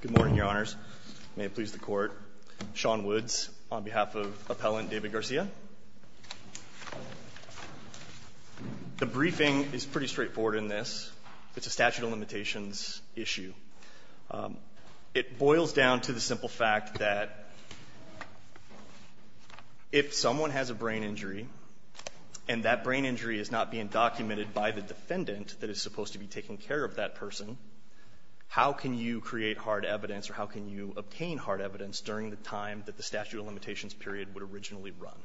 Good morning, Your Honors. May it please the Court. Sean Woods on behalf of Appellant David Garcia. The briefing is pretty straightforward in this. It's a statute of limitations issue. It boils down to the simple fact that if someone has a brain injury and that brain injury is not being documented by the defendant that is supposed to be taking care of that person, how can you create hard evidence or how can you obtain hard evidence during the time that the statute of limitations period would originally run?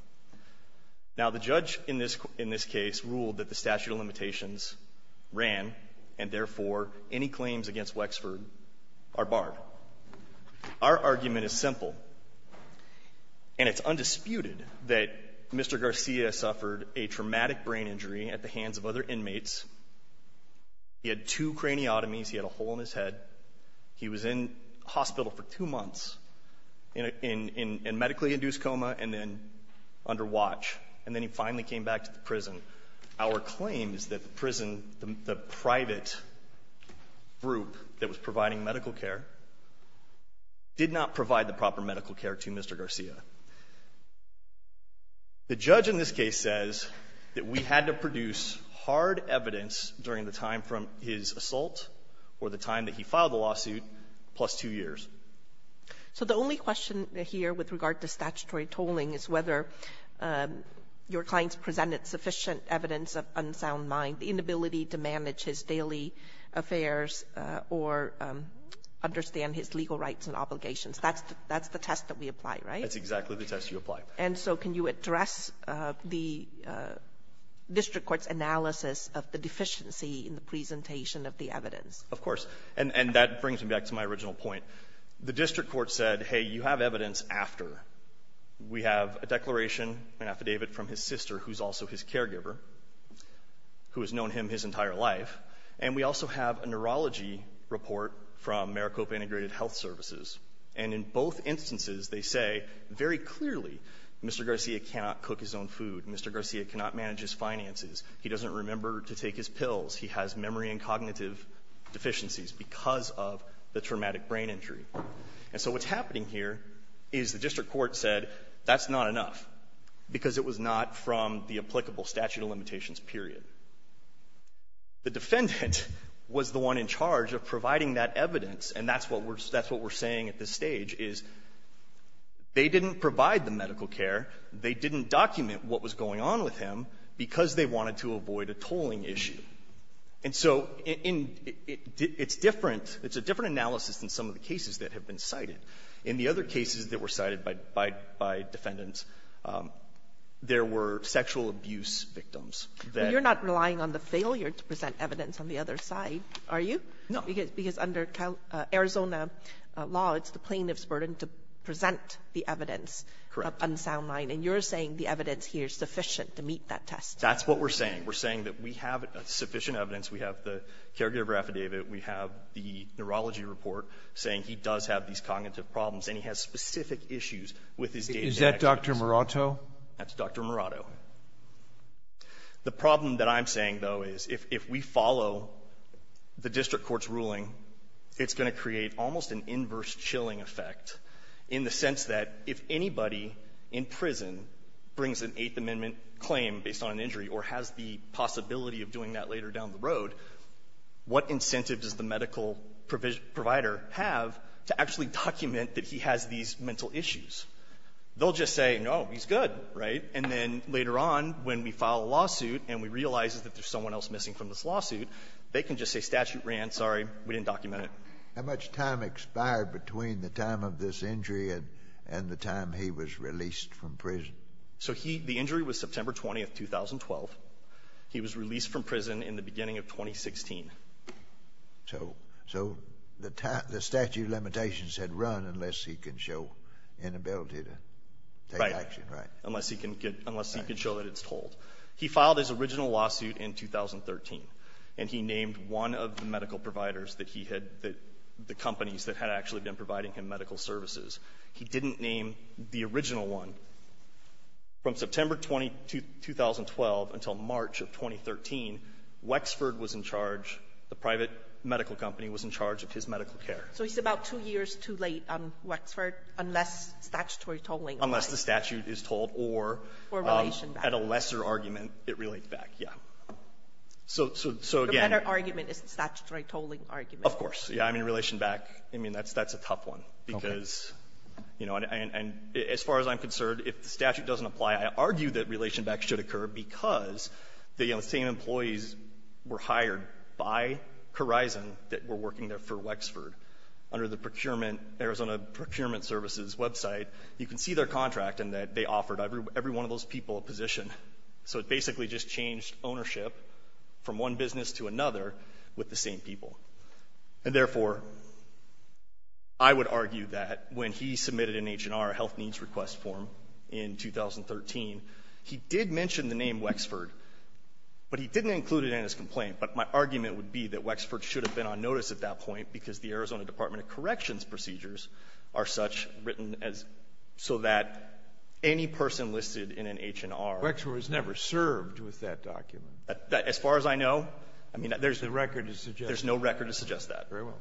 Now, the judge in this case ruled that the statute of limitations ran, and therefore, any claims against Wexford are barred. Our argument is simple, and it's undisputed that Mr. Garcia suffered a traumatic brain injury at the hands of other inmates. He had two craniotomies. He had a hole in his head. He was in hospital for two months in medically induced coma and then under watch, and then he finally came back to the prison. Our claim is that the prison, the private group that was providing medical care did not provide the proper medical care to Mr. Garcia. The judge in this case says that we had to produce hard evidence during the time from his assault or the time that he filed the lawsuit plus two years. So the only question here with regard to statutory tolling is whether your clients presented sufficient evidence of unsound mind, inability to manage his daily affairs or understand his legal rights and obligations. That's the test that we apply, right? That's exactly the test you apply. And so can you address the district court's analysis of the deficiency in the presentation of the evidence? Of course. And that brings me back to my original point. The district court said, hey, you have evidence after. We have a declaration, an affidavit from his sister, who's also his caregiver, who has known him his entire life, and we also have a neurology report from Maricopa Integrated Health Services, and in both instances they say very clearly Mr. Garcia cannot cook his own food. Mr. Garcia cannot manage his finances. He doesn't remember to take his pills. He has memory and cognitive deficiencies because of the traumatic brain injury. And so what's happening here is the district court said that's not enough because it was not from the applicable statute of limitations, period. The defendant was the one in charge of providing that evidence. And that's what we're saying at this stage, is they didn't provide the medical care, they didn't document what was going on with him because they wanted to avoid a tolling issue. And so it's different. It's a different analysis than some of the cases that have been cited. In the other cases that were cited by defendants, there were sexual abuse victims that... But you're not relying on the failure to present evidence on the other side, are you? No. Because under Arizona law, it's the plaintiff's burden to present the evidence of unsound mind, and you're saying the evidence here is sufficient to meet that test. That's what we're saying. We're saying that we have sufficient evidence. We have the caregiver affidavit. We have the neurology report saying he does have these cognitive problems, and he has specific issues with his day-to-day activities. Is that Dr. Murato? That's Dr. Murato. The problem that I'm saying, though, is if we follow the district court's ruling, it's going to create almost an inverse chilling effect in the sense that if anybody in prison brings an Eighth Amendment claim based on an injury or has the possibility of doing that later down the road, what incentives does the medical provider have to actually document that he has these mental issues? They'll just say, no, he's good, right? And then later on, when we file a lawsuit and we realize that there's someone else missing from this lawsuit, they can just say statute ran. Sorry. We didn't document it. How much time expired between the time of this injury and the time he was released from prison? So the injury was September 20th, 2012. He was released from prison in the beginning of 2016. So the statute of limitations said run unless he can show inability to take action. Right. Unless he can show that it's told. He filed his original lawsuit in 2013, and he named one of the medical providers that he had, the companies that had actually been providing him medical services. He didn't name the original one. From September 2012 until March of 2013, Wexford was in charge. The private medical company was in charge of his medical care. So he's about two years too late on Wexford unless statutory tolling applies. Unless the statute is tolled or at a lesser argument, it relates back. Yeah. So again — The better argument is the statutory tolling argument. Of course. Yeah. I mean, relation back, I mean, that's a tough one because, you know, as far as I'm concerned, if the statute doesn't apply, I argue that relation back should occur because the same employees were hired by Corizon that were working there for Wexford under the procurement, Arizona procurement services website. You can see their contract and that they offered every one of those people a position. So it basically just changed ownership from one business to another with the same people. And therefore, I would argue that when he submitted an H&R health needs request form in 2013, he did mention the name Wexford, but he didn't include it in his complaint. But my argument would be that Wexford should have been on notice at that point because the Arizona Department of Corrections procedures are such written as so that any person listed in an H&R — Wexford was never served with that document. As far as I know, I mean — There's no record to suggest that. There's no record to suggest that. Very well.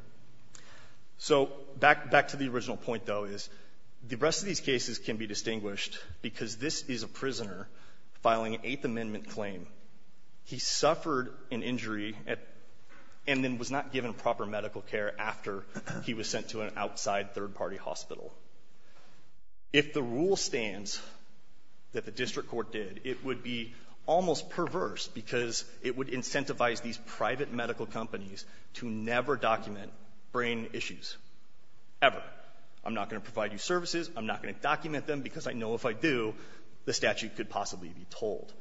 So back to the original point, though, is the rest of these cases can be distinguished because this is a prisoner filing an Eighth Amendment claim. He suffered an injury and then was not given proper medical care after he was sent to an outside third-party hospital. If the rule stands that the district court did, it would be almost perverse because it would incentivize these private medical companies to never document brain issues ever. I'm not going to provide you services. I'm not going to document them because I know if I do, the statute could possibly be told.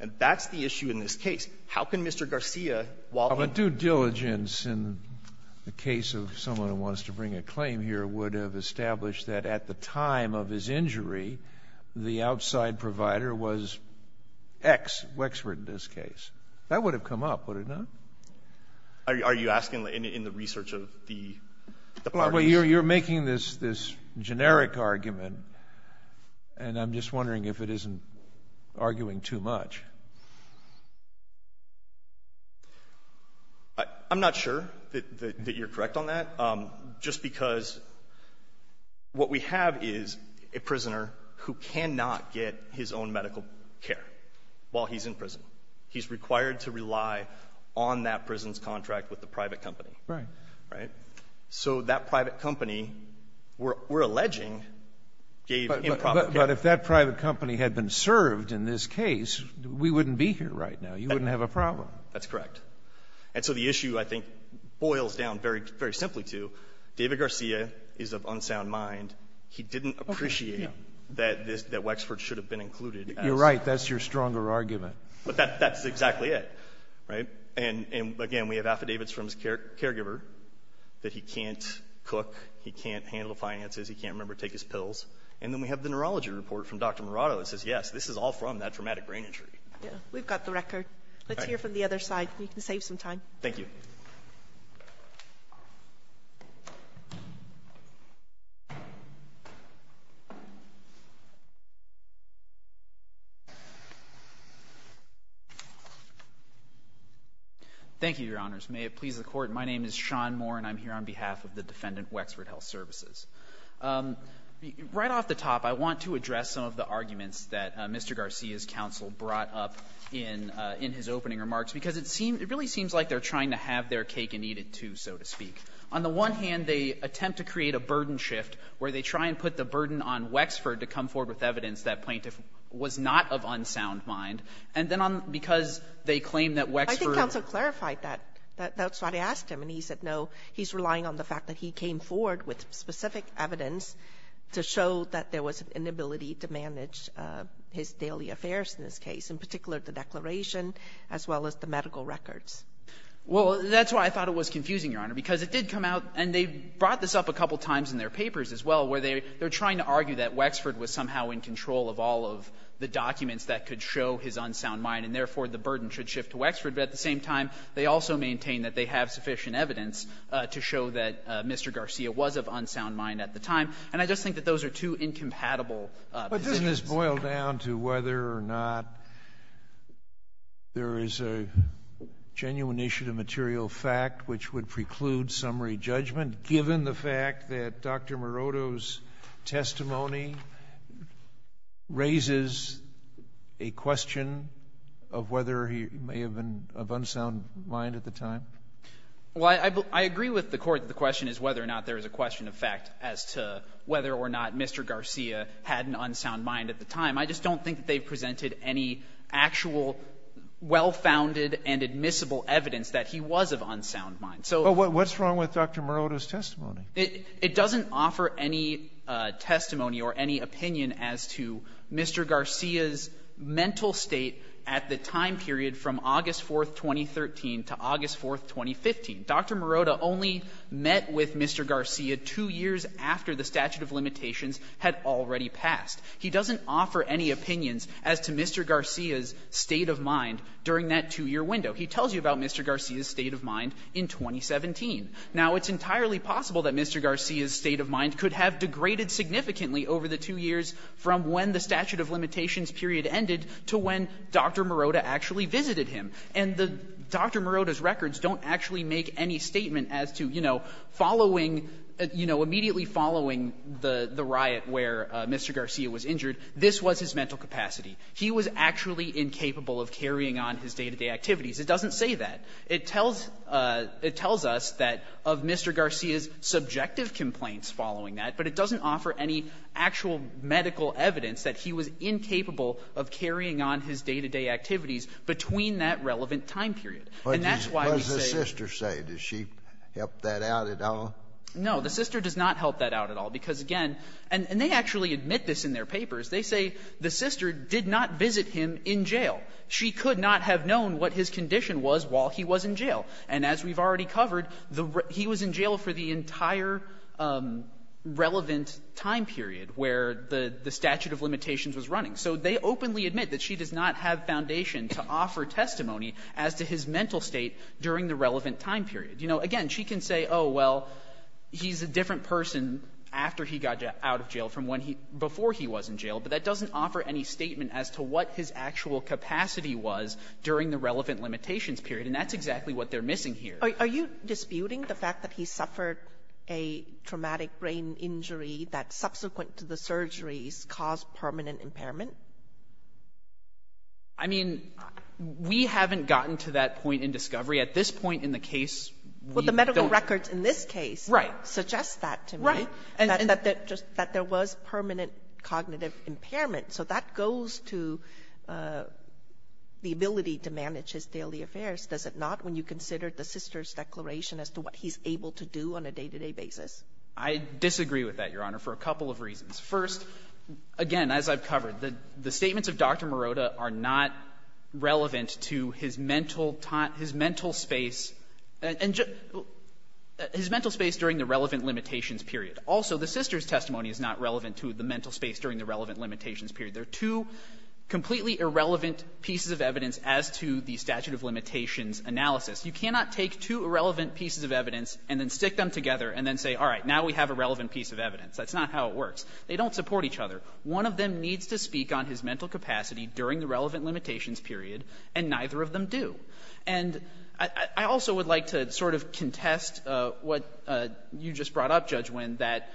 And that's the issue in this case. How can Mr. Garcia, while he — But due diligence in the case of someone who wants to bring a claim here would have established that at the time of his injury, the outside provider was X, Wexford in this case. That would have come up, would it not? Are you asking in the research of the parties? You're making this generic argument, and I'm just wondering if it isn't arguing too much. I'm not sure that you're correct on that. Just because what we have is a prisoner who cannot get his own medical care while he's in prison. He's required to rely on that prison's contract with the private company. Right. Right? So that private company, we're alleging, gave improper care. But if that private company had been served in this case, we wouldn't be here right now. You wouldn't have a problem. That's correct. And so the issue, I think, boils down very simply to David Garcia is of unsound He didn't appreciate that this — that Wexford should have been included. You're right. That's your stronger argument. But that's exactly it. Right? And, again, we have affidavits from his caregiver that he can't cook, he can't handle finances, he can't, remember, take his pills. And then we have the neurology report from Dr. Murado that says, yes, this is all from that traumatic brain injury. Yeah. We've got the record. All right. Let's hear from the other side. We can save some time. Thank you. Thank you, Your Honors. May it please the Court, my name is Sean Moore, and I'm here on behalf of the defendant Wexford Health Services. Right off the top, I want to address some of the arguments that Mr. Garcia's counsel brought up in his opening remarks, because it seems — it really seems like they're trying to have their cake and eat it, too, so to speak. On the one hand, they attempt to create a burden shift where they try and put the burden on Wexford to come forward with evidence that plaintiff was not of unsound mind. And then on — because they claim that Wexford — I think counsel clarified that. That's why they asked him. And he said no. He's relying on the fact that he came forward with specific evidence to show that there was an inability to manage his daily affairs in this case, in particular the declaration as well as the medical records. Well, that's why I thought it was confusing, Your Honor, because it did come out — and they brought this up a couple of times in their papers as well, where they were trying to argue that Wexford was somehow in control of all of the documents that could show his unsound mind, and therefore the burden should shift to Wexford. But at the same time, they also maintained that they have sufficient evidence to show that Mr. Garcia was of unsound mind at the time. And I just think that those are two incompatible positions. Scalia. But doesn't this boil down to whether or not there is a genuine issue to material fact which would preclude summary judgment, given the fact that Dr. Maroto's mind at the time? Well, I agree with the Court that the question is whether or not there is a question of fact as to whether or not Mr. Garcia had an unsound mind at the time. I just don't think that they've presented any actual well-founded and admissible evidence that he was of unsound mind. So — Well, what's wrong with Dr. Maroto's testimony? It doesn't offer any testimony or any opinion as to Mr. Garcia's mental state at the time period from August 4th, 2013 to August 4th, 2015. Dr. Maroto only met with Mr. Garcia two years after the statute of limitations had already passed. He doesn't offer any opinions as to Mr. Garcia's state of mind during that two-year window. He tells you about Mr. Garcia's state of mind in 2017. Now, it's entirely possible that Mr. Garcia's state of mind could have degraded significantly over the two years from when the statute of limitations period ended to when Dr. Maroto actually visited him. And the Dr. Maroto's records don't actually make any statement as to, you know, following, you know, immediately following the riot where Mr. Garcia was injured, this was his mental capacity. He was actually incapable of carrying on his day-to-day activities. It doesn't say that. It tells us that of Mr. Garcia's subjective complaints following that, but it doesn't offer any actual medical evidence that he was incapable of carrying on his day-to-day activities between that relevant time period. And that's why we say that. Scalia. What does the sister say? Does she help that out at all? No. The sister does not help that out at all, because, again, and they actually admit this in their papers. They say the sister did not visit him in jail. She could not have known what his condition was while he was in jail. And as we've already covered, he was in jail for the entire relevant time period where the statute of limitations was running. So they openly admit that she does not have foundation to offer testimony as to his mental state during the relevant time period. You know, again, she can say, oh, well, he's a different person after he got out of jail from when he before he was in jail, but that doesn't offer any statement as to what his actual capacity was during the relevant limitations period. And that's exactly what they're missing here. Are you disputing the fact that he suffered a traumatic brain injury that subsequent to the surgeries caused permanent impairment? I mean, we haven't gotten to that point in discovery. At this point in the case, we don't. Well, the medical records in this case suggest that to me. Right. That there was permanent cognitive impairment. So that goes to the ability to manage his daily affairs, does it not, when you consider the sister's declaration as to what he's able to do on a day-to-day basis? I disagree with that, Your Honor, for a couple of reasons. First, again, as I've covered, the statements of Dr. Morota are not relevant to his mental space during the relevant limitations period. Also, the sister's testimony is not relevant to the mental space during the relevant limitations period. They're two completely irrelevant pieces of evidence as to the statute of limitations analysis. You cannot take two irrelevant pieces of evidence and then stick them together and then say, all right, now we have a relevant piece of evidence. That's not how it works. They don't support each other. One of them needs to speak on his mental capacity during the relevant limitations period, and neither of them do. And I also would like to sort of contest what you just brought up, Judge Winn, that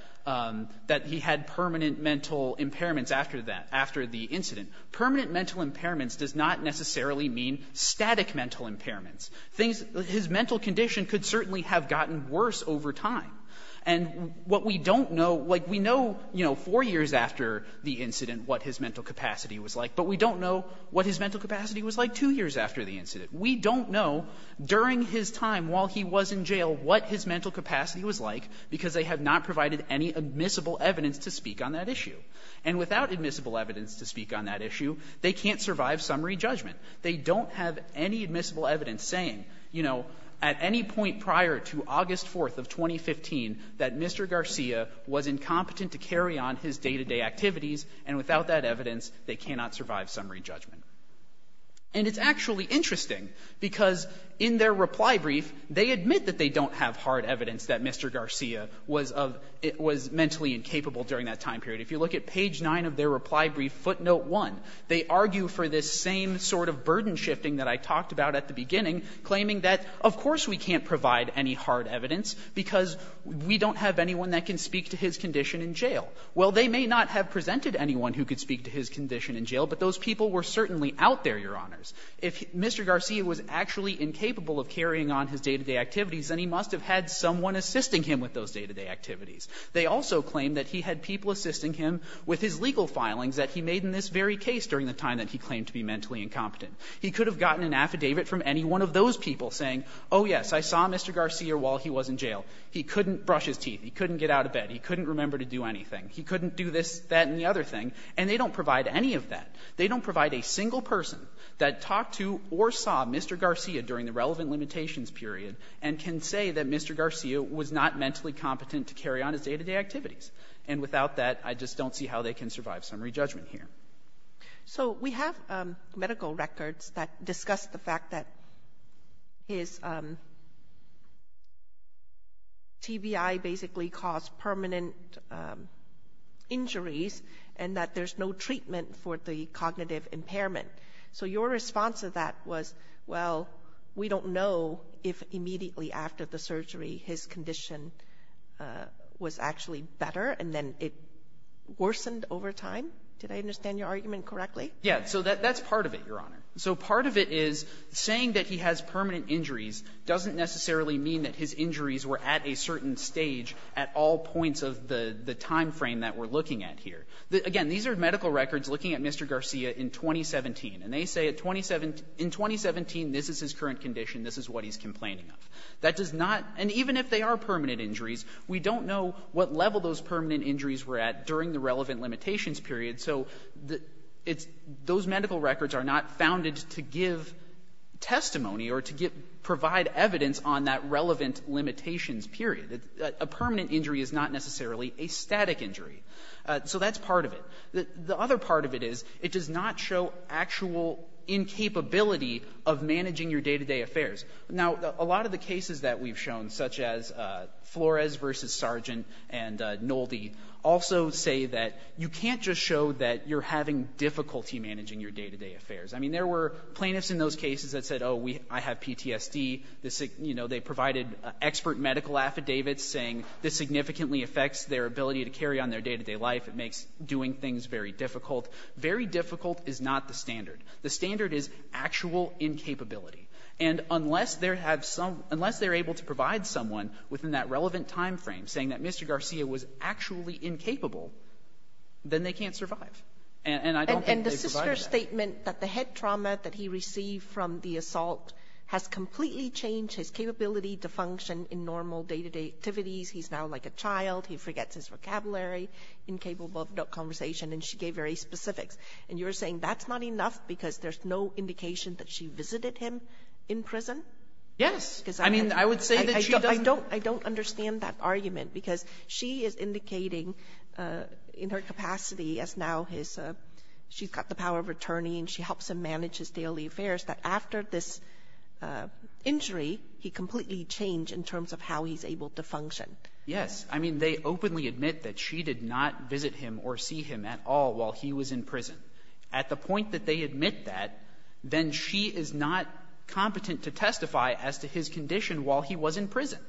he had permanent mental impairments after that, after the incident. Permanent mental impairments does not necessarily mean static mental impairments. Things — his mental condition could certainly have gotten worse over time. And what we don't know — like, we know, you know, four years after the incident what his mental capacity was like, but we don't know what his mental capacity was like two years after the incident. We don't know during his time while he was in jail what his mental capacity was like because they have not provided any admissible evidence to speak on that issue. And without admissible evidence to speak on that issue, they can't survive summary judgment. They don't have any admissible evidence saying, you know, at any point prior to August 4th of 2015 that Mr. Garcia was incompetent to carry on his day-to-day activities, and without that evidence, they cannot survive summary judgment. And it's actually interesting, because in their reply brief, they admit that they believe that Mr. Garcia was mentally incapable during that time period. If you look at page 9 of their reply brief, footnote 1, they argue for this same sort of burden shifting that I talked about at the beginning, claiming that of course we can't provide any hard evidence because we don't have anyone that can speak to his condition in jail. Well, they may not have presented anyone who could speak to his condition in jail, but those people were certainly out there, Your Honors. If Mr. Garcia was actually incapable of carrying on his day-to-day activities, then he must have had someone assisting him with those day-to-day activities. They also claim that he had people assisting him with his legal filings that he made in this very case during the time that he claimed to be mentally incompetent. He could have gotten an affidavit from any one of those people saying, oh, yes, I saw Mr. Garcia while he was in jail. He couldn't brush his teeth. He couldn't get out of bed. He couldn't remember to do anything. He couldn't do this, that, and the other thing. And they don't provide any of that. They don't provide a single person that talked to or saw Mr. Garcia during the relevant limitations period and can say that Mr. Garcia was not mentally competent to carry on his day-to-day activities. And without that, I just don't see how they can survive summary judgment here. So we have medical records that discuss the fact that his TBI basically caused permanent injuries and that there's no treatment for the cognitive impairment. So your response to that was, well, we don't know if immediately after the surgery his condition was actually better and then it worsened over time? Did I understand your argument correctly? Yeah. So that's part of it, Your Honor. So part of it is saying that he has permanent injuries doesn't necessarily mean that his injuries were at a certain stage at all points of the timeframe that we're looking at here. Again, these are medical records looking at Mr. Garcia in 2017, and they say in 2017 this is his current condition, this is what he's complaining of. That does not — and even if they are permanent injuries, we don't know what level those permanent injuries were at during the relevant limitations period. So those medical records are not founded to give testimony or to provide evidence on that relevant limitations period. A permanent injury is not necessarily a static injury. So that's part of it. The other part of it is it does not show actual incapability of managing your day-to-day affairs. Now, a lot of the cases that we've shown, such as Flores v. Sargent and Nolde, also say that you can't just show that you're having difficulty managing your day-to-day affairs. I mean, there were plaintiffs in those cases that said, oh, I have PTSD. They provided expert medical affidavits saying this significantly affects their ability to carry on their day-to-day life. It makes doing things very difficult. Very difficult is not the standard. The standard is actual incapability. And unless they're able to provide someone within that relevant timeframe saying that Mr. Garcia was actually incapable, then they can't survive. And I don't think they've provided that. And the sister's statement that the head trauma that he received from the assault has completely changed his capability to function in normal day-to-day activities. He's now like a child. He forgets his vocabulary, incapable of conversation. And she gave very specifics. And you're saying that's not enough because there's no indication that she visited him in prison? Yes. I mean, I would say that she doesn't ---- I don't understand that argument because she is indicating in her capacity as now his ---- she's got the power of attorney and she helps him manage his daily affairs that after this injury, he completely changed in terms of how he's able to function. Yes. I mean, they openly admit that she did not visit him or see him at all while he was in prison. At the point that they admit that, then she is not competent to testify as to his condition while he was in prison.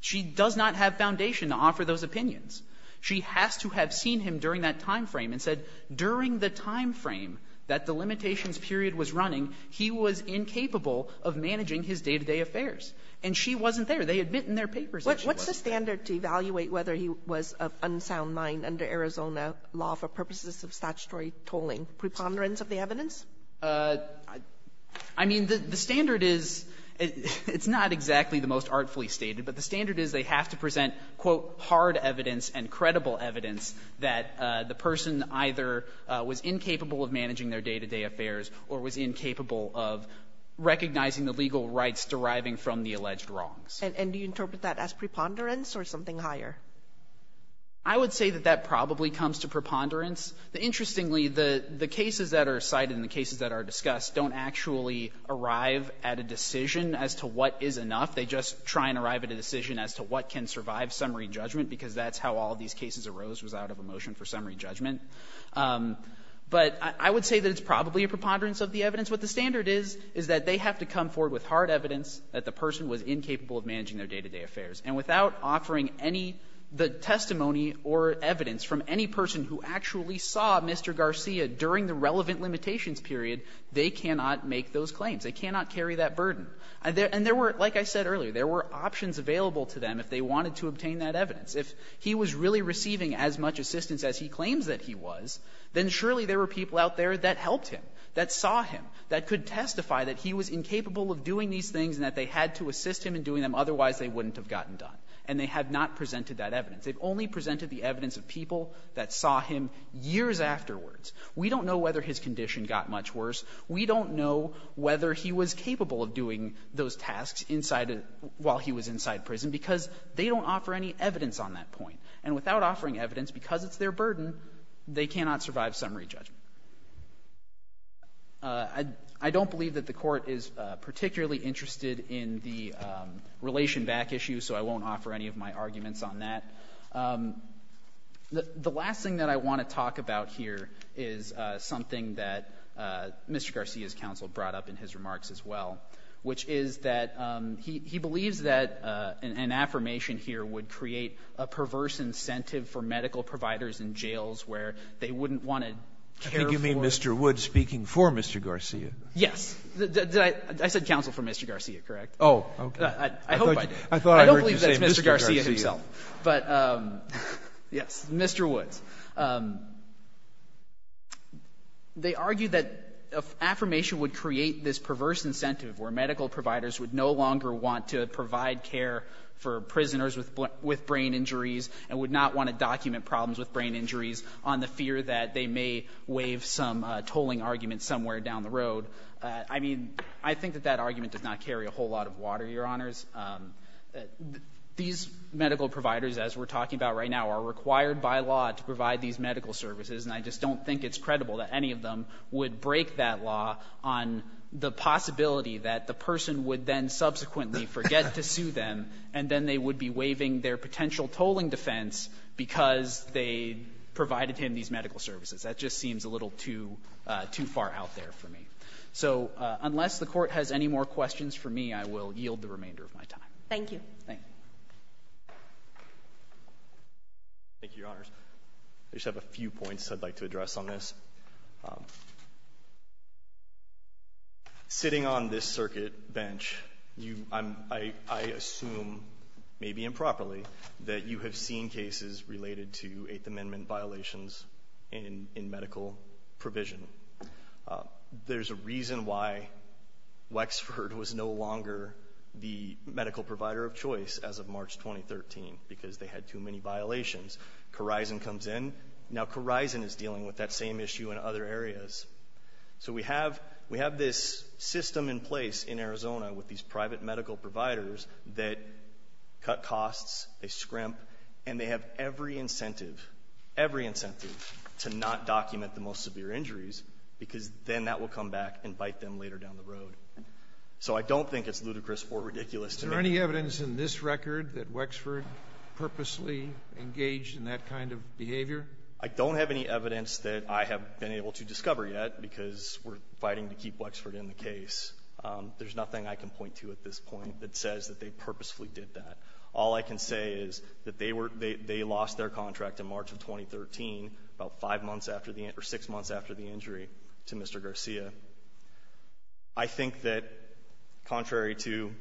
She does not have foundation to offer those opinions. She has to have seen him during that timeframe and said during the timeframe that the limitations period was running, he was incapable of managing his day-to-day affairs. And she wasn't there. They admit in their papers that she was. What's the standard to evaluate whether he was of unsound mind under Arizona law for purposes of statutory tolling? A preponderance of the evidence? I mean, the standard is, it's not exactly the most artfully stated, but the standard is they have to present, quote, hard evidence and credible evidence that the person either was incapable of managing their day-to-day affairs or was incapable of recognizing the legal rights deriving from the alleged wrongs. And do you interpret that as preponderance or something higher? I would say that that probably comes to preponderance. Interestingly, the cases that are cited and the cases that are discussed don't actually arrive at a decision as to what is enough. They just try and arrive at a decision as to what can survive summary judgment, because that's how all these cases arose, was out of a motion for summary judgment. But I would say that it's probably a preponderance of the evidence. What the standard is, is that they have to come forward with hard evidence that the person was incapable of managing their day-to-day affairs. And without offering any testimony or evidence from any person who actually saw Mr. Garcia during the relevant limitations period, they cannot make those claims. They cannot carry that burden. And there were, like I said earlier, there were options available to them if they wanted to obtain that evidence. If he was really receiving as much assistance as he claims that he was, then surely there were people out there that helped him, that saw him, that could testify that he was incapable of doing these things and that they had to assist him in doing them, otherwise they wouldn't have gotten done. And they have not presented that evidence. They've only presented the evidence of people that saw him years afterwards. We don't know whether his condition got much worse. We don't know whether he was capable of doing those tasks inside a — while he was there. We don't offer any evidence on that point. And without offering evidence, because it's their burden, they cannot survive summary judgment. I don't believe that the Court is particularly interested in the relation back issue, so I won't offer any of my arguments on that. The last thing that I want to talk about here is something that Mr. Garcia's counsel brought up in his remarks as well, which is that he believes that an affirmation here would create a perverse incentive for medical providers in jails where they wouldn't want to care for them. I think you mean Mr. Woods speaking for Mr. Garcia. Yes. Did I — I said counsel for Mr. Garcia, correct? Oh, okay. I hope I did. I thought I heard you say Mr. Garcia. I don't believe that's Mr. Garcia himself. But, yes, Mr. Woods. They argue that an affirmation would create this perverse incentive where medical providers would no longer want to provide care for prisoners with brain injuries and would not want to document problems with brain injuries on the fear that they may waive some tolling argument somewhere down the road. I mean, I think that that argument does not carry a whole lot of water, Your Honors. These medical providers, as we're talking about right now, are required by law to provide these medical services, and I just don't think it's credible that any of them would break that law on the possibility that the person would then subsequently forget to sue them, and then they would be waiving their potential tolling defense because they provided him these medical services. That just seems a little too far out there for me. So unless the Court has any more questions for me, I will yield the remainder of my time. Thank you. Thank you. Thank you, Your Honors. I just have a few points I'd like to address on this. Sitting on this circuit bench, I assume, maybe improperly, that you have seen cases related to Eighth Amendment violations in medical provision. There's a reason why Wexford was no longer the medical provider of choice as of March 2013, because they had too many violations. Corizon comes in. Now, Corizon is dealing with that same issue in other areas. So we have this system in place in Arizona with these private medical providers that cut costs, they scrimp, and they have every incentive, every incentive, to not document the most severe injuries, because then that will come back and bite them later down the road. So I don't think it's ludicrous or ridiculous to me. Is there any evidence in this record that Wexford purposely engaged in that kind of behavior? I don't have any evidence that I have been able to discover yet, because we're fighting to keep Wexford in the case. There's nothing I can point to at this point that says that they purposefully did that. All I can say is that they were — they lost their contract in March of 2013, about five months after the — or six months after the injury to Mr. Garcia. I think that, contrary to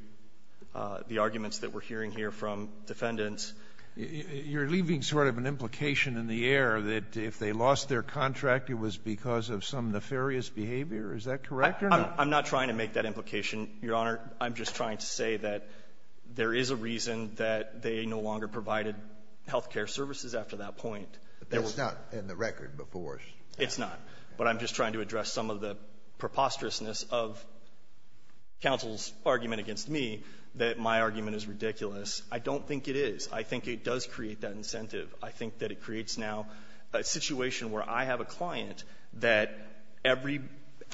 the arguments that we're hearing here from defendants — You're leaving sort of an implication in the air that if they lost their contract, it was because of some nefarious behavior. Is that correct or not? I'm not trying to make that implication, Your Honor. I'm just trying to say that there is a reason that they no longer provided health care services after that point. But that's not in the record before. It's not. But I'm just trying to address some of the preposterousness of counsel's argument against me, that my argument is ridiculous. I don't think it is. I think it does create that incentive. I think that it creates now a situation where I have a client that every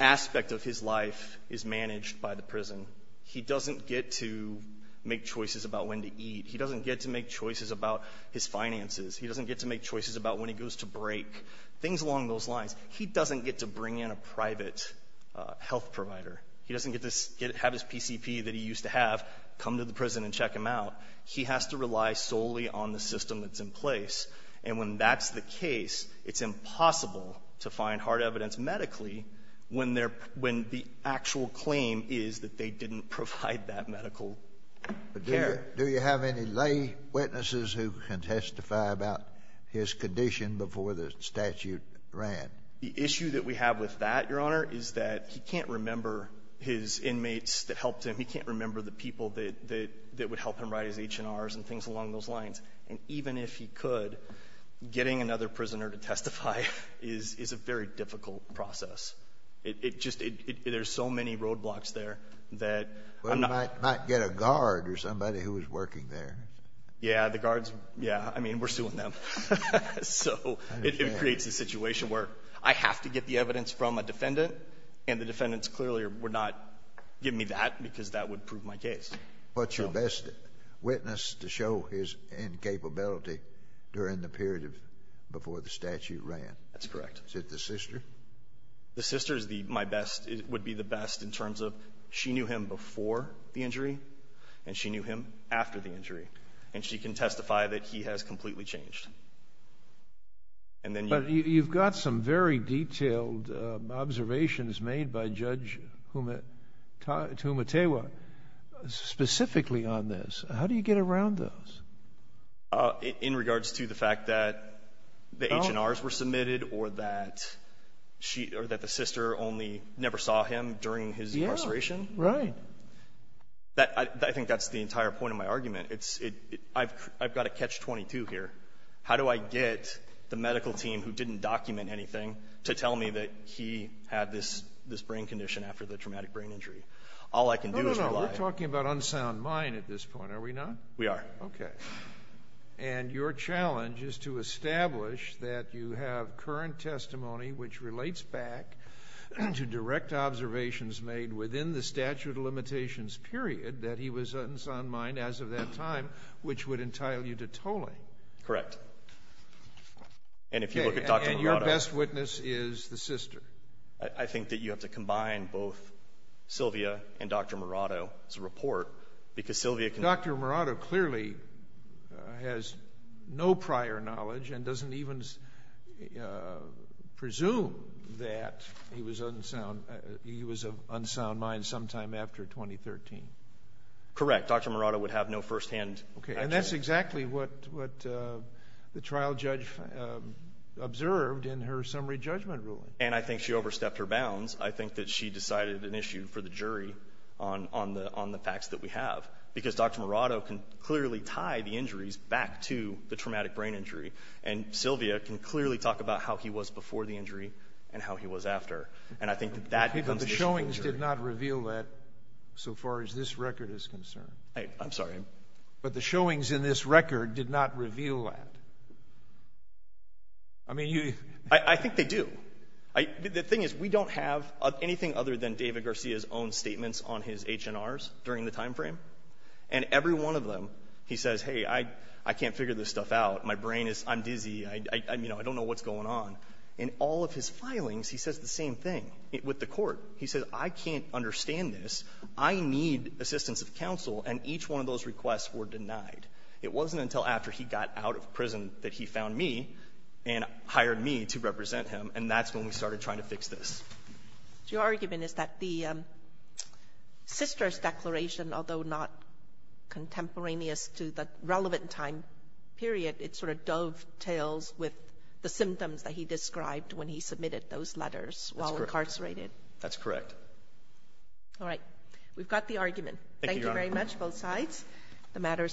aspect of his life is managed by the prison. He doesn't get to make choices about when to eat. He doesn't get to make choices about his finances. He doesn't get to make choices about when he goes to break. Things along those lines. He doesn't get to bring in a private health provider. He doesn't get to have his PCP that he used to have, come to the prison and check him out. He has to rely solely on the system that's in place. And when that's the case, it's impossible to find hard evidence medically when the actual claim is that they didn't provide that medical care. Do you have any lay witnesses who can testify about his condition before the statute ran? The issue that we have with that, Your Honor, is that he can't remember his inmates that helped him. He can't remember the people that would help him write his H&Rs and things along those lines. And even if he could, getting another prisoner to testify is a very difficult process. It just — there's so many roadblocks there that I'm not — Well, you might get a guard or somebody who was working there. Yeah, the guards, yeah. I mean, we're suing them. So it creates a situation where I have to get the evidence from a defendant, and the defendants clearly would not give me that because that would prove my case. What's your best witness to show his incapability during the period before the statute ran? That's correct. Is it the sister? The sister is my best — would be the best in terms of she knew him before the injury and she knew him after the injury. And she can testify that he has completely changed. And then you — But you've got some very detailed observations made by Judge Tumatewa specifically on this. How do you get around those? In regards to the fact that the H&Rs were submitted or that she — or that the sister only never saw him during his incarceration? Yeah, right. I think that's the entire point of my argument. It's — I've got a catch-22 here. How do I get the medical team who didn't document anything to tell me that he had this brain condition after the traumatic brain injury? All I can do is rely — No, no, no. We're talking about unsound mind at this point, are we not? We are. Okay. And your challenge is to establish that you have current testimony which relates back to direct observations made within the statute of limitations period that he was unsound mind as of that time, which would entitle you to tolling. Correct. And if you look at Dr. Murado — And your best witness is the sister. I think that you have to combine both Sylvia and Dr. Murado's report because Sylvia can — Dr. Murado clearly has no prior knowledge and doesn't even presume that he was unsound. He was of unsound mind sometime after 2013. Correct. Dr. Murado would have no firsthand — Okay. And that's exactly what the trial judge observed in her summary judgment ruling. And I think she overstepped her bounds. I think that she decided an issue for the jury on the facts that we have because Dr. Murado can clearly tie the injuries back to the traumatic brain injury. And Sylvia can clearly talk about how he was before the injury and how he was after. And I think that that becomes the issue for the jury. But the showings did not reveal that so far as this record is concerned. I'm sorry? But the showings in this record did not reveal that. I mean, you — I think they do. The thing is, we don't have anything other than David Garcia's own statements on his H&Rs during the timeframe. And every one of them, he says, hey, I can't figure this stuff out. My brain is — I'm dizzy. I don't know what's going on. In all of his filings, he says the same thing with the court. He says, I can't understand this. I need assistance of counsel. And each one of those requests were denied. It wasn't until after he got out of prison that he found me and hired me to represent him. And that's when we started trying to fix this. Your argument is that the sister's declaration, although not contemporaneous to the relevant time period, it sort of dovetails with the symptoms that he described when he submitted those letters while incarcerated. That's correct. All right. We've got the argument. Thank you very much, both sides. The matter is submitted.